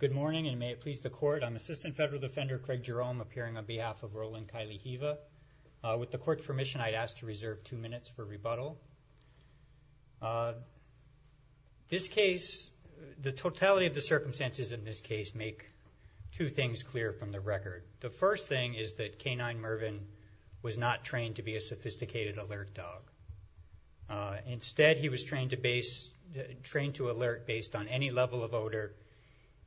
Good morning, and may it please the court. I'm Assistant Federal Defender Craig Jerome appearing on behalf of Roland Kailihiwa. With the court's permission, I'd ask to reserve two minutes for rebuttal. This case, the totality of the circumstances in this case make two things clear from the record. The first thing is that K-9 Mervyn was not trained to be a sophisticated alert dog. Instead, he was trained to alert based on any level of odor,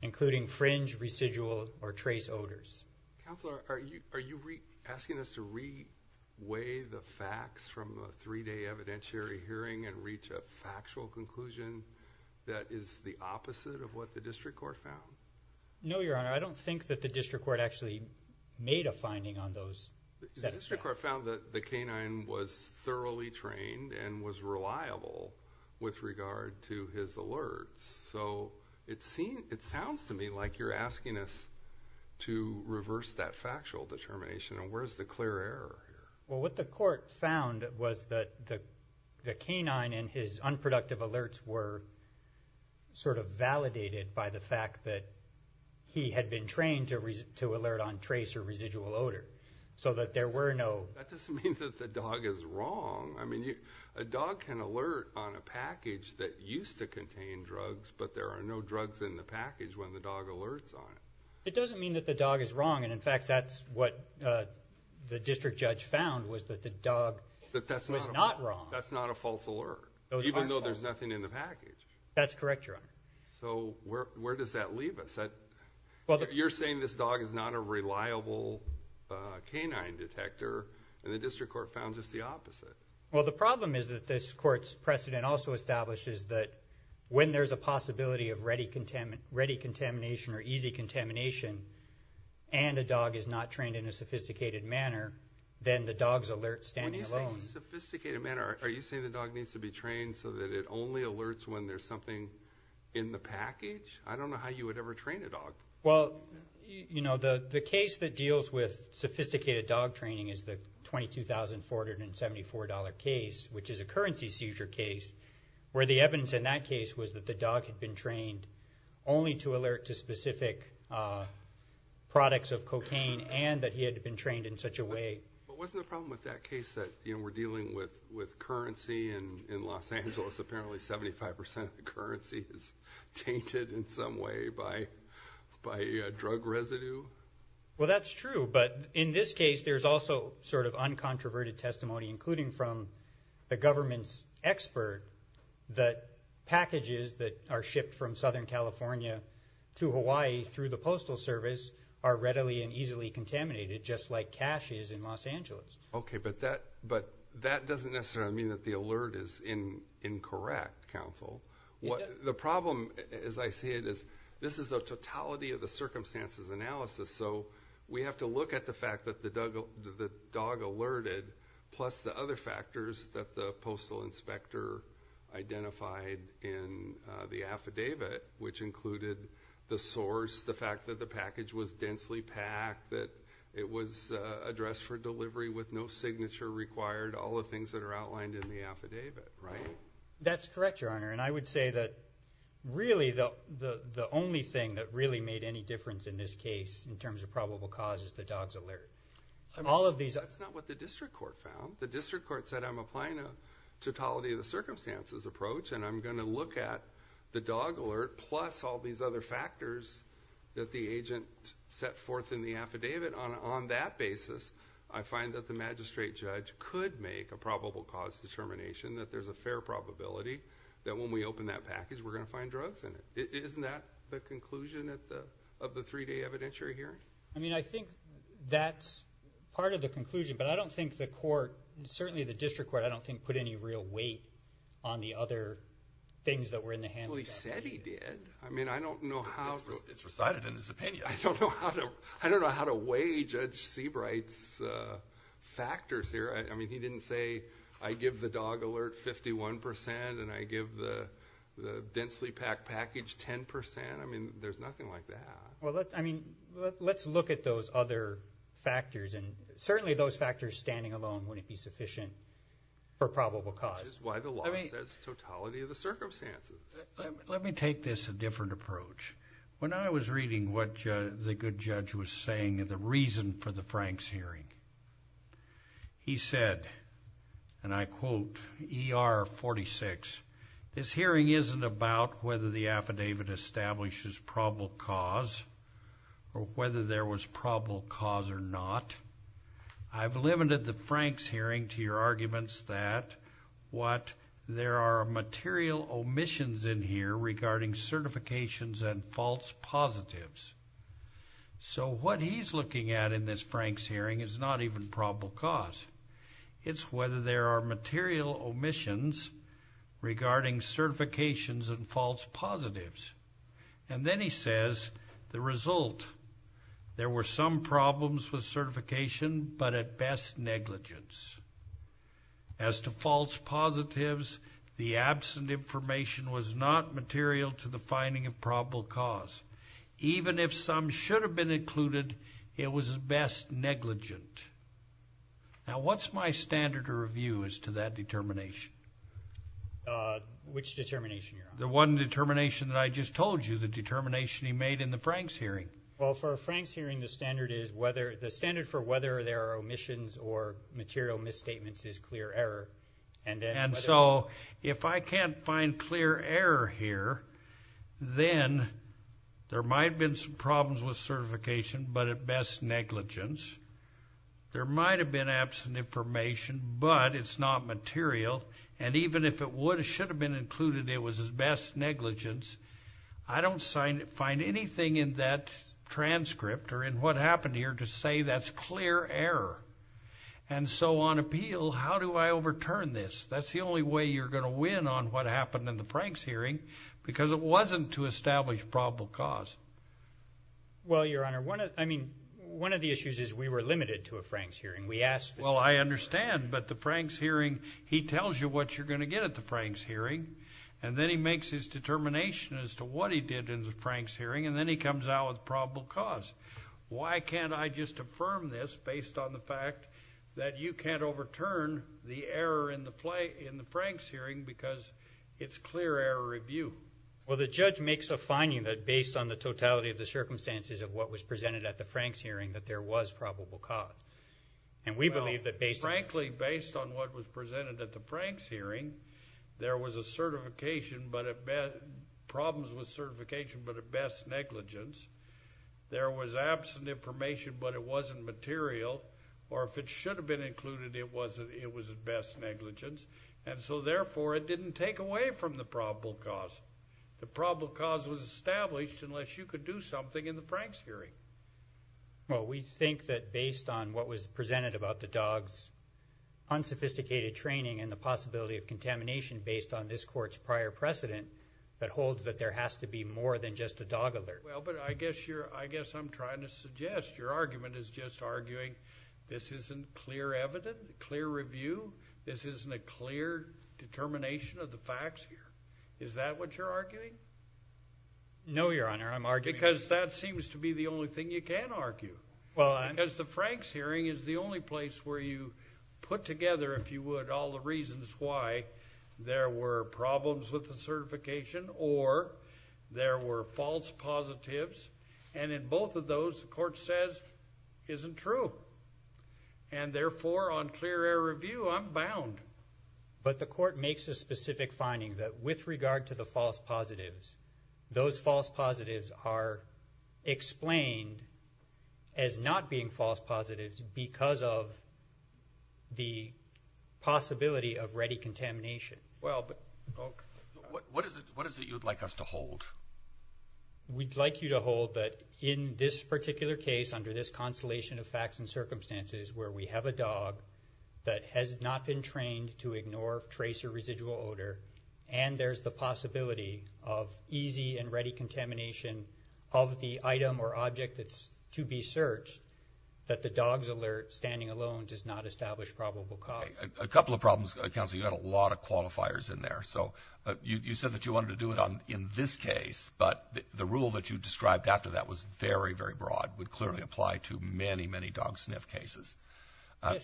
including fringe, residual, or trace odors. Counselor, are you asking us to re-weigh the facts from the three-day evidentiary hearing and reach a factual conclusion that is the opposite of what the district court found? No, Your Honor. I don't think that the district court actually made a finding on those. The district court found that the K-9 was thoroughly trained and was reliable with regard to his alerts. It sounds to me like you're asking us to reverse that factual determination. Where is the clear error here? What the court found was that the K-9 and his unproductive alerts were sort of validated by the fact that he had been trained to alert on trace or residual odor so that there were no... That doesn't mean that the dog is wrong. I mean, a dog can alert on a package that used to contain drugs, but there are no drugs in the package when the dog alerts on it. It doesn't mean that the dog is wrong. In fact, that's what the district judge found was that the dog was not wrong. That's not a false alert, even though there's nothing in the package. That's correct, Your Honor. So, where does that leave us? You're saying this dog is not a reliable K-9 detector, and the district court found just the opposite. Well, the problem is that this court's precedent also establishes that when there's a possibility of ready contamination or easy contamination and a dog is not trained in a sophisticated manner, then the dogs alert standing alone. When you say sophisticated manner, are you saying the dog needs to be trained so that it only alerts when there's something in the package? I don't know how you would ever train a dog. Well, you know, the case that deals with sophisticated dog training is the $22,474 case, which is a currency seizure case, where the evidence in that case was that the dog had been trained only to alert to specific products of cocaine and that he had been trained in such a way. But wasn't the problem with that case that, you know, we're dealing with currency in Los Angeles, and apparently 75% of the currency is tainted in some way by drug residue? Well, that's true. But in this case, there's also sort of uncontroverted testimony, including from the government's expert, that packages that are shipped from Southern California to Hawaii through the Postal Service are readily and easily contaminated, just like cash is in Los Angeles. Okay, but that doesn't necessarily mean that the alert is incorrect, counsel. The problem, as I see it, is this is a totality of the circumstances analysis, so we have to look at the fact that the dog alerted, plus the other factors that the postal inspector identified in the affidavit, which included the source, the fact that the package was densely packed, the fact that it was addressed for delivery with no signature required, all the things that are outlined in the affidavit, right? That's correct, Your Honor, and I would say that really the only thing that really made any difference in this case, in terms of probable cause, is the dog's alert. All of these... That's not what the district court found. The district court said, I'm applying a totality of the circumstances approach, and I'm going to look at the dog alert, plus all these other factors that are outlined in the affidavit. On that basis, I find that the magistrate judge could make a probable cause determination that there's a fair probability that when we open that package, we're going to find drugs in it. Isn't that the conclusion of the three-day evidentiary hearing? I mean, I think that's part of the conclusion, but I don't think the court, certainly the district court, I don't think put any real weight on the other things that were in the handbook. Well, he said he did. I mean, I don't know how... It's recited in his opinion. I don't know how to weigh Judge Seabright's factors here. I mean, he didn't say, I give the dog alert 51% and I give the densely packed package 10%. I mean, there's nothing like that. Well, I mean, let's look at those other factors, and certainly those factors standing alone wouldn't be sufficient for probable cause. This is why the law says totality of the circumstances. Let me take this a different approach. When I was reading what the good judge was saying and the reason for the Franks hearing, he said, and I quote, ER 46, this hearing isn't about whether the affidavit establishes probable cause or whether there was probable cause or not. I've limited the Franks hearing to your arguments that what there are material omissions in here regarding certifications and false positives. So what he's looking at in this Franks hearing is not even probable cause. It's whether there are material omissions regarding certifications and false positives. And then he says the result, there were some material to the finding of probable cause. Even if some should have been included, it was at best negligent. Now, what's my standard of review as to that determination? Which determination, Your Honor? The one determination that I just told you, the determination he made in the Franks hearing. Well, for a Franks hearing, the standard is whether, the standard for whether there are omissions or material misstatements is clear error. And so if I can't find clear error here, then there might have been some problems with certification, but at best negligence. There might have been absent information, but it's not material. And even if it would, it should have been included, it was at best negligence. I don't find anything in that transcript or in what happened here to say that's clear error. And so on appeal, how do I overturn this? That's the only way you're going to win on what happened in the Franks hearing, because it wasn't to establish probable cause. Well, Your Honor, I mean, one of the issues is we were limited to a Franks hearing. We asked... Well, I understand, but the Franks hearing, he tells you what you're going to get at the Franks hearing, and then he makes his determination as to what he did in the Franks hearing, and then he comes out with probable cause. Why can't I just affirm this based on the fact that you can't overturn the error in the Franks hearing because it's clear error review? Well, the judge makes a finding that based on the totality of the circumstances of what was presented at the Franks hearing, that there was probable cause. And we believe that based on... Well, frankly, based on what was presented at the Franks hearing, there was a certification, but at best... problems with certification, but at best negligence. There was absent information, but it wasn't material, or if it should have been included, it was at best negligence. And so, therefore, it didn't take away from the probable cause. The probable cause was established unless you could do something in the Franks hearing. Well, we think that based on what was presented about the dog's unsophisticated training and the possibility of contamination based on this Court's prior precedent that holds that there has to be more than just a dog alert. Well, but I guess you're... I guess I'm trying to suggest your argument is just arguing this isn't clear evidence, clear review, this isn't a clear determination of the facts here. Is that what you're arguing? No, Your Honor, I'm arguing... Because that seems to be the only thing you can argue. Well, I... Because the Franks hearing is the only place where you put together, if you would, all the reasons why there were problems with the certification or there were false positives. And in both of those, the Court says, isn't true. And therefore, on clear air review, I'm bound. But the Court makes a specific finding that with regard to the false positives, those are the only possibility of ready contamination. Well, but... What is it you'd like us to hold? We'd like you to hold that in this particular case, under this constellation of facts and circumstances where we have a dog that has not been trained to ignore trace or residual odor, and there's the possibility of easy and ready contamination of the item or object that's to be searched, that the dog's alert standing alone does not establish probable cause. A couple of problems, Counselor, you had a lot of qualifiers in there. So you said that you wanted to do it in this case, but the rule that you described after that was very, very broad, would clearly apply to many, many dog sniff cases.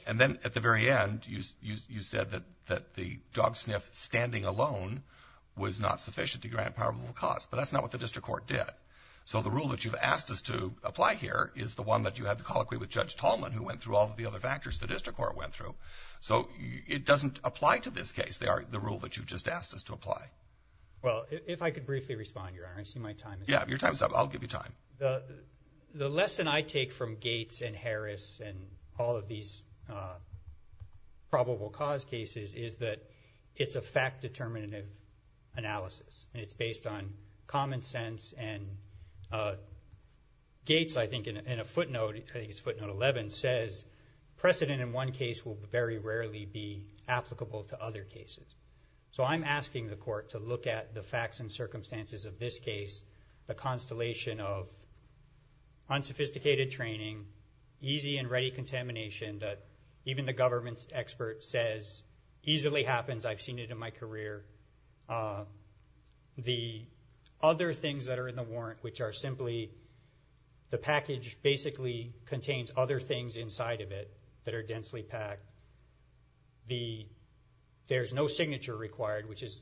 And then at the very end, you said that the dog sniff standing alone was not sufficient to grant probable cause, but that's not what the District Court did. So the rule that you've asked us to apply here is the one that you had to colloquy with Judge Tallman, who went through all of the other factors the District Court went through. So it doesn't apply to this case. They are the rule that you've just asked us to apply. Well, if I could briefly respond, Your Honor, I see my time is up. Yeah, your time is up. I'll give you time. The lesson I take from Gates and Harris and all of these probable cause cases is that it's a fact-determinative analysis, and it's based on common sense. And Gates, I think, in a footnote, I think it's footnote 11, says precedent in one case will very rarely be applicable to other cases. So I'm asking the Court to look at the facts and circumstances of this case, the constellation of unsophisticated training, easy and ready contamination that even the government's expert says easily happens. I've seen it in my career. The other things that are in the warrant, which are simply the package basically contains other things inside of it that are densely packed. There's no signature required, which is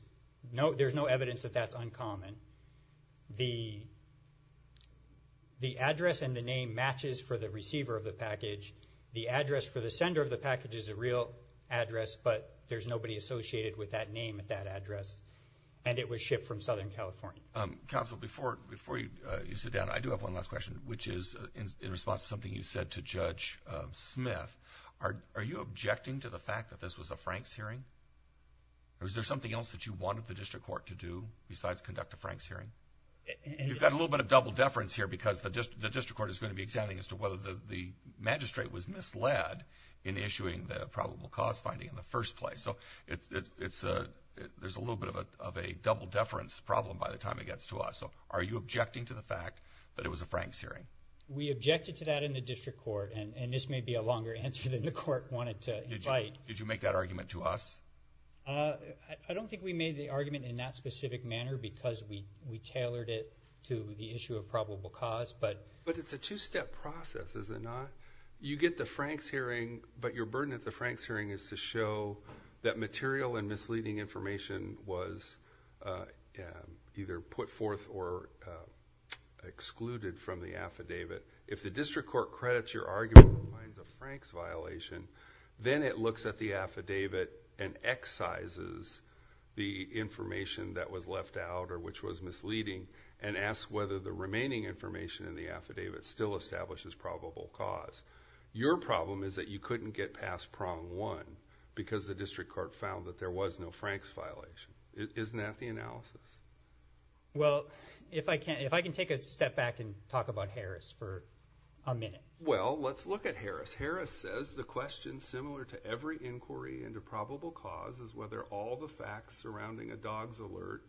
no, there's no evidence that that's uncommon. The address and the name matches for the receiver of the package. The sender of the package is a real address, but there's nobody associated with that name at that address, and it was shipped from Southern California. Counsel, before you sit down, I do have one last question, which is in response to something you said to Judge Smith. Are you objecting to the fact that this was a Franks hearing? Or is there something else that you wanted the District Court to do besides conduct a Franks hearing? You've got a little bit of double deference here because the District Court is going to be examining as to whether the magistrate was misled in issuing the probable cause finding in the first place. So there's a little bit of a double deference problem by the time it gets to us. So are you objecting to the fact that it was a Franks hearing? We objected to that in the District Court, and this may be a longer answer than the Court wanted to invite. Did you make that argument to us? I don't think we made the argument in that specific manner because we tailored it to the issue of probable cause, but... But it's a two-step process, is it not? You get the Franks hearing, but your burden at the Franks hearing is to show that material and misleading information was either put forth or excluded from the affidavit. If the District Court credits your argument with a Franks violation, then it looks at the affidavit and excises the information that was left out or which was misleading and asks whether the remaining information in the affidavit still establishes probable cause. Your problem is that you couldn't get past prong one because the District Court found that there was no Franks violation. Isn't that the analysis? Well, if I can take a step back and talk about Harris for a minute. Well, let's look at Harris. Harris says the question, similar to every inquiry into probable cause, is whether all the facts surrounding a dog's alert,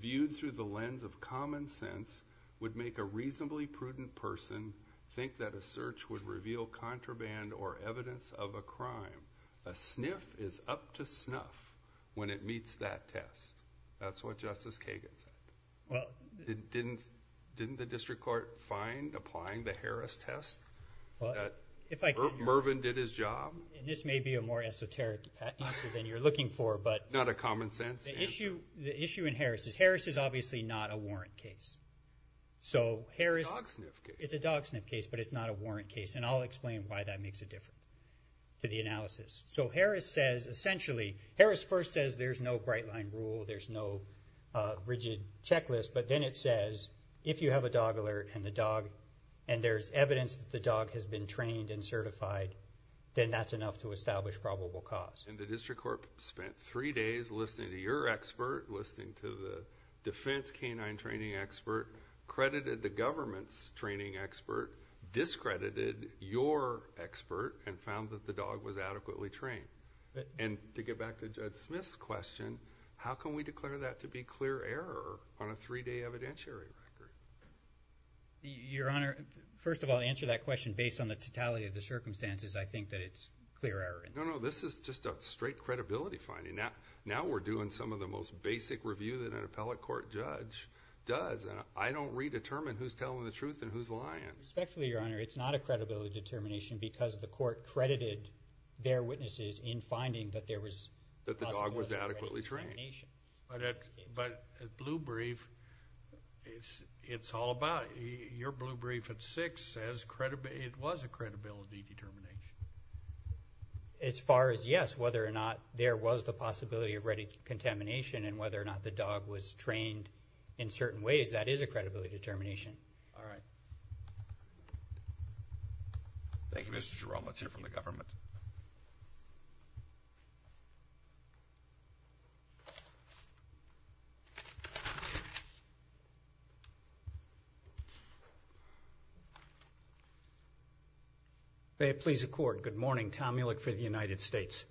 viewed through the lens of common sense, would make a reasonably prudent person think that a search would reveal contraband or evidence of a crime. A sniff is up to snuff when it meets that test. That's what Justice Kagan said. Didn't the District Court find, applying the Harris test, that Mervyn did his job? And this may be a more esoteric answer than you're looking for, but the issue in Harris is Harris is obviously not a warrant case. So Harris, it's a dog sniff case, but it's not a warrant case. And I'll explain why that makes a difference to the analysis. So Harris says, essentially, Harris first says there's no bright-line rule, there's no rigid checklist, but then it says if you have a dog alert and the dog, and there's evidence that the dog has been trained and certified, then that's enough to establish probable cause. And the District Court spent three days listening to your expert, listening to the defense canine training expert, credited the government's training expert, discredited your expert, and found that the dog was adequately trained. And to get back to Judge Smith's question, how can we declare that to be clear error on a three-day evidentiary record? Your Honor, first of all, to answer that question based on the totality of the circumstances, I think that it's clear error. No, no, this is just a straight credibility finding. Now we're doing some of the most basic review that an appellate court judge does, and I don't redetermine who's telling the truth and who's lying. Respectfully, Your Honor, it's not a credibility determination because the court credited their witnesses in finding that there was a possibility of ready contamination. That the dog was adequately trained. But at Blue Brief, it's all about, your Blue Brief at 6 says it was a credibility determination. As far as yes, whether or not there was the possibility of ready contamination and whether or not the dog was trained in certain ways, that is a credibility determination. All right. Thank you, Mr. Jerome. Let's hear from the government. May it please the Court, good morning. Tom Muehlek for the United States.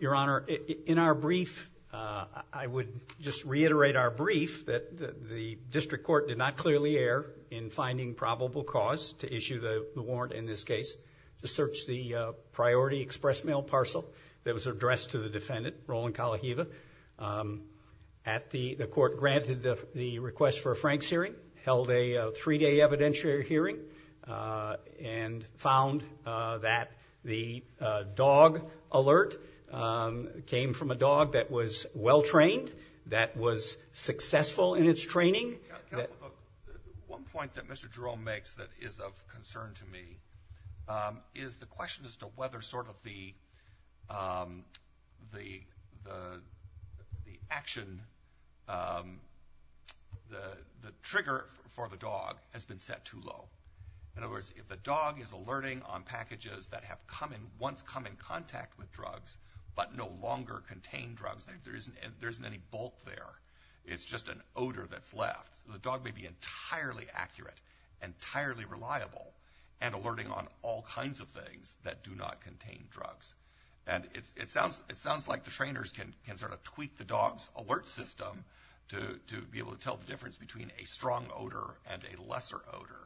Your Honor, in our brief, I would just reiterate our brief that the district court did not clearly err in finding probable cause to issue the warrant in this case to search the priority express mail parcel that was addressed to the defendant, Roland Kalaheva. The court granted the request for a Franks hearing, held a three-day evidentiary hearing, and found that the dog alert came from a dog that was well-trained, that was successful in its training. One point that Mr. Jerome makes that is of concern to me is the question as to whether sort of the action, the trigger for the dog has been set too low. In other words, if the dog is alerting on packages that have once come in contact with drugs, but no longer contain drugs, there isn't any bulk there. It's just an odor that's left. The dog may be entirely accurate, entirely reliable, and alerting on all kinds of things that do not contain drugs. And it sounds like the trainers can sort of tweak the dog's alert system to be able to tell the difference between a strong odor and a lesser odor.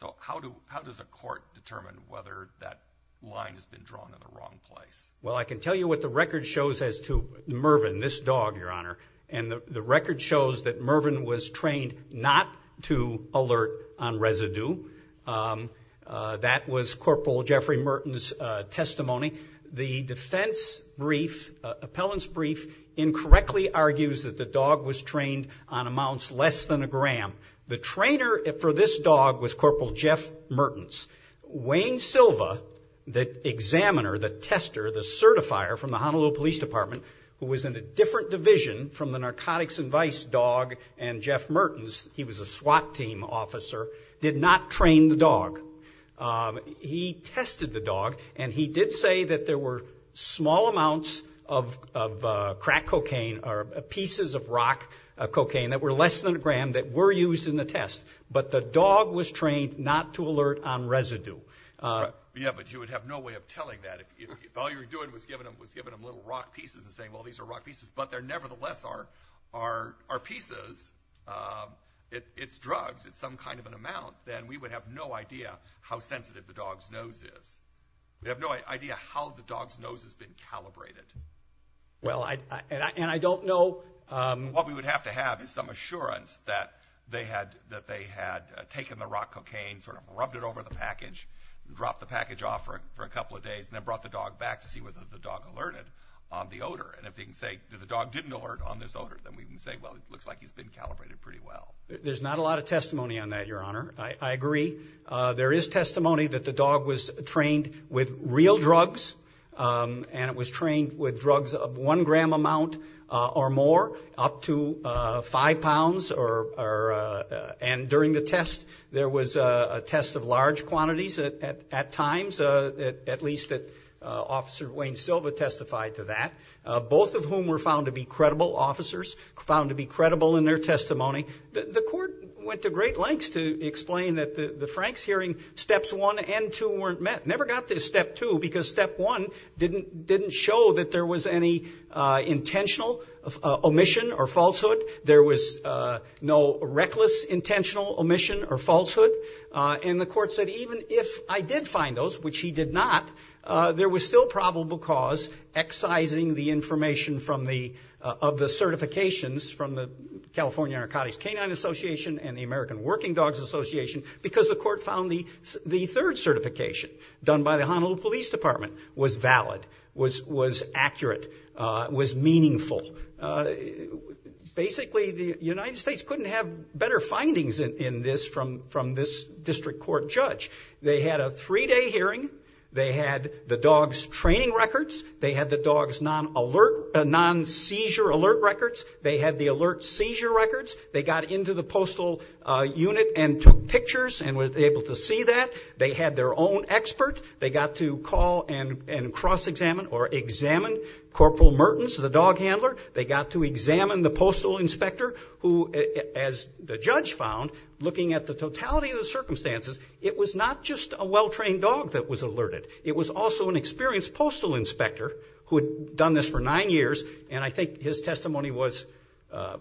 So how does a court determine whether that line has been drawn in the wrong place? Well, I can tell you what the record shows as to Mervyn, this dog, Your Honor, and the record shows that Mervyn was trained not to alert on residue. That was Corporal Jeffrey Mertens' testimony. The defense brief, appellant's brief, incorrectly argues that the dog was trained on amounts less than a gram. The trainer for this dog was Corporal Jeff Mertens. Wayne Silva, the examiner, the tester, the certifier from the Honolulu Police Department, who was in a different division from the narcotics advice dog and Jeff Mertens, he was a SWAT team officer, did not train the dog. He tested the dog, and he did say that there were small amounts of crack cocaine or pieces of rock cocaine that were less than a gram that were used in the test, but the dog was trained not to alert on residue. Yeah, but you would have no way of telling that. If all you were doing was giving them little rock pieces and saying, well, these are rock pieces, but they're nevertheless are pieces, it's drugs, it's some kind of an amount, then we would have no idea how sensitive the dog's nose is. We have no idea how the dog's nose has been calibrated. Well, and I don't know— What we would have to have is some assurance that they had taken the rock cocaine, sort of rubbed it over the package, dropped the package off for a couple of days, and then brought the dog back to see whether the dog alerted on the odor. And if they can say that the dog didn't alert on this odor, then we can say, well, it looks like he's been calibrated pretty well. There's not a lot of testimony on that, Your Honor. I agree. There is testimony that the dog was trained with real drugs, and it was trained with drugs of one gram amount or more, up to five pounds. And during the test, there was a test of large quantities at times, at least that Officer Wayne Silva testified to that, both of whom were found to be credible officers, found to be credible in their testimony. The court went to great lengths to explain that the Franks hearing, steps one and two weren't met, never got to step two, because step one didn't show that there was any intentional omission or falsehood. There was no reckless intentional omission or falsehood. And the court said even if I did find those, which he did not, there was still probable cause excising the information of the certifications from the California Narcotics Canine Association and the American Working Dogs Association because the court found the third certification, done by the Honolulu Police Department, was valid, was accurate, was meaningful. Basically, the United States couldn't have better findings in this from this district court judge. They had a three-day hearing. They had the dog's training records. They had the dog's non-seizure alert records. They had the alert seizure records. They got into the postal unit and took pictures and were able to see that. They had their own expert. They got to call and cross-examine or examine Corporal Mertens, the dog handler. They got to examine the postal inspector who, as the judge found, looking at the totality of the circumstances, it was not just a well-trained dog that was alerted. It was also an experienced postal inspector who had done this for nine years, and I think his testimony was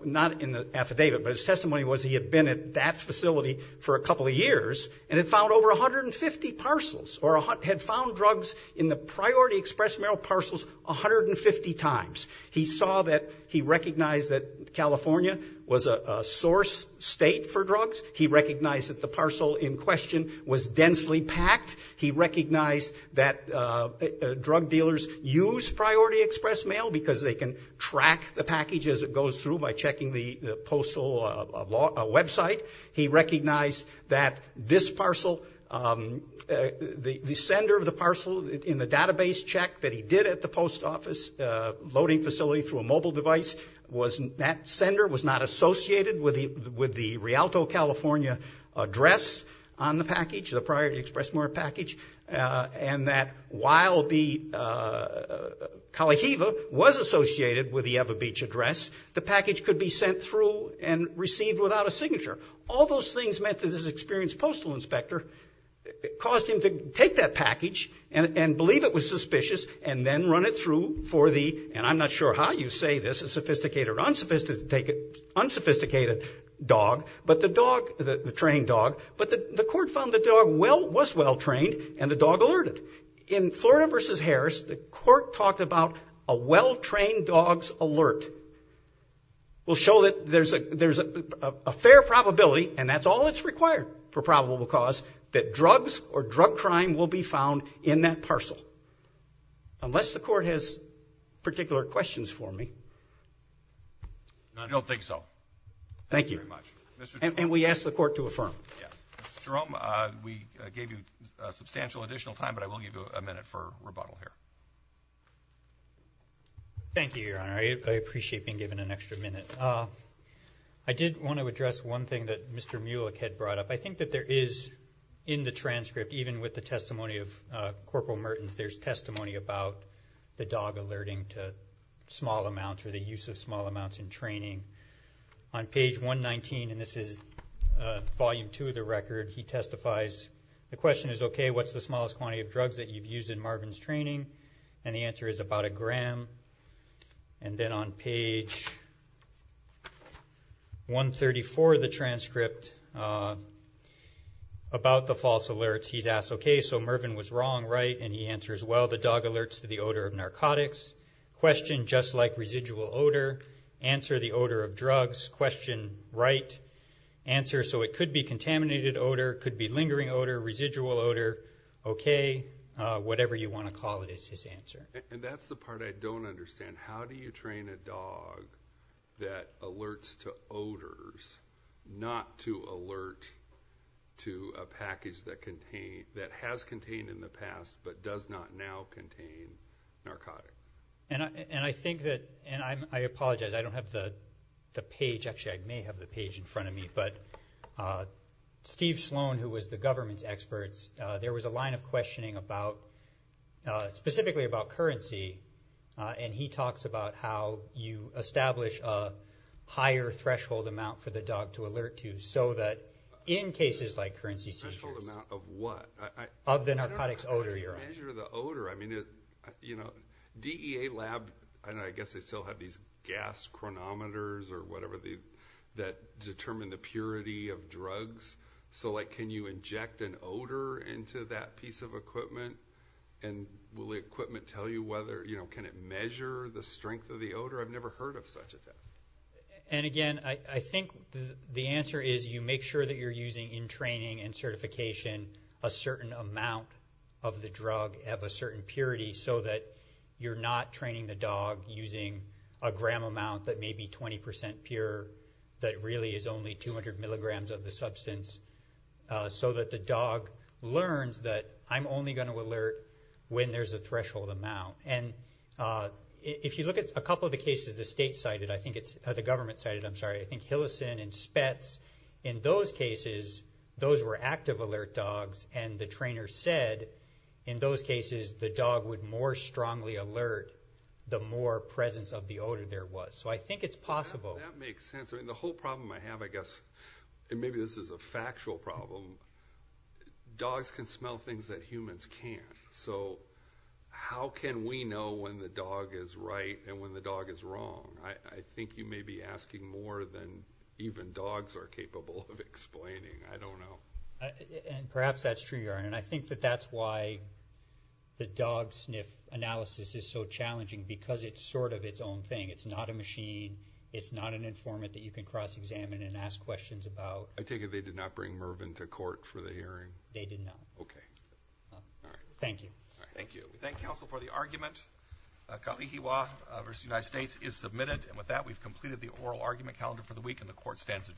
not in the affidavit, but his testimony was he had been at that facility for a couple of years and had found over 150 parcels or had found drugs in the Priority Express mail parcels 150 times. He recognized that California was a source state for drugs. He recognized that the parcel in question was densely packed. He recognized that drug dealers use Priority Express mail because they can track the package as it goes through by checking the postal website. He recognized that this parcel, the sender of the parcel in the database check that he did at the post office loading facility through a mobile device, that sender was not associated with the Rialto, California, address on the package, the Priority Express mail package, and that while the Kalaheva was associated with the Ewa Beach address, the package could be sent through and received without a signature. All those things meant that this experienced postal inspector caused him to take that package and believe it was suspicious and then run it through for the, and I'm not sure how you say this, a sophisticated or unsophisticated dog, but the dog, the trained dog, but the court found the dog was well trained and the dog alerted. In Florida v. Harris, the court talked about a well trained dog's alert. We'll show that there's a fair probability, and that's all that's required for probable cause, that drugs or drug crime will be found in that parcel. Unless the court has particular questions for me. I don't think so. Thank you. And we ask the court to affirm. Jerome, we gave you substantial additional time, but I will give you a minute for rebuttal here. Thank you, Your Honor. I appreciate being given an extra minute. I did want to address one thing that Mr. Mulek had brought up. I think that there is in the transcript, even with the testimony of Corporal Mertens, there's testimony about the dog alerting to small amounts or the use of small amounts in training. On page 119, and this is volume two of the record, he testifies. The question is, okay, what's the smallest quantity of drugs that you've used in Marvin's training? And the answer is about a gram. And then on page 134 of the transcript, about the false alerts, he's asked, okay, so Mervin was wrong, right? And he answers, well, the dog alerts to the odor of narcotics. Question, just like residual odor. Answer, the odor of drugs. Question, right. Answer, so it could be contaminated odor, could be lingering odor, residual odor. Okay, whatever you want to call it is his answer. And that's the part I don't understand. How do you train a dog that alerts to odors, not to alert to a package that has contained in the past, but does not now contain narcotics? And I think that, and I apologize, I don't have the page. Actually, I may have the page in front of me. But Steve Sloan, who was the government's expert, there was a line of questioning about, specifically about currency. And he talks about how you establish a higher threshold amount for the dog to alert to, so that in cases like currency seizures. Threshold amount of what? Of the narcotics odor you're on. Measure the odor. I mean, you know, DEA lab, I guess they still have these gas chronometers or whatever, that determine the purity of drugs. So, like, can you inject an odor into that piece of equipment? And will the equipment tell you whether, you know, can it measure the strength of the odor? I've never heard of such a thing. And, again, I think the answer is you make sure that you're using in training and certification a certain amount of the drug of a certain purity, so that you're not training the dog using a gram amount that may be 20% pure, that really is only 200 milligrams of the substance, so that the dog learns that I'm only going to alert when there's a threshold amount. And if you look at a couple of the cases the state cited, I think it's the government cited, I'm sorry, I think Hillison and Spetz, in those cases, those were active alert dogs, and the trainer said in those cases the dog would more strongly alert the more presence of the odor there was. So I think it's possible. That makes sense. I mean, the whole problem I have, I guess, and maybe this is a factual problem, dogs can smell things that humans can't. So how can we know when the dog is right and when the dog is wrong? I think you may be asking more than even dogs are capable of explaining. I don't know. And perhaps that's true, Jaron, and I think that that's why the dog sniff analysis is so challenging because it's sort of its own thing. It's not a machine. It's not an informant that you can cross-examine and ask questions about. I take it they did not bring Mervyn to court for the hearing. They did not. Okay. All right. Thank you. Thank you. We thank counsel for the argument. Kalihiwa v. United States is submitted, and with that we've completed the oral argument calendar for the week, and the court stands adjourned.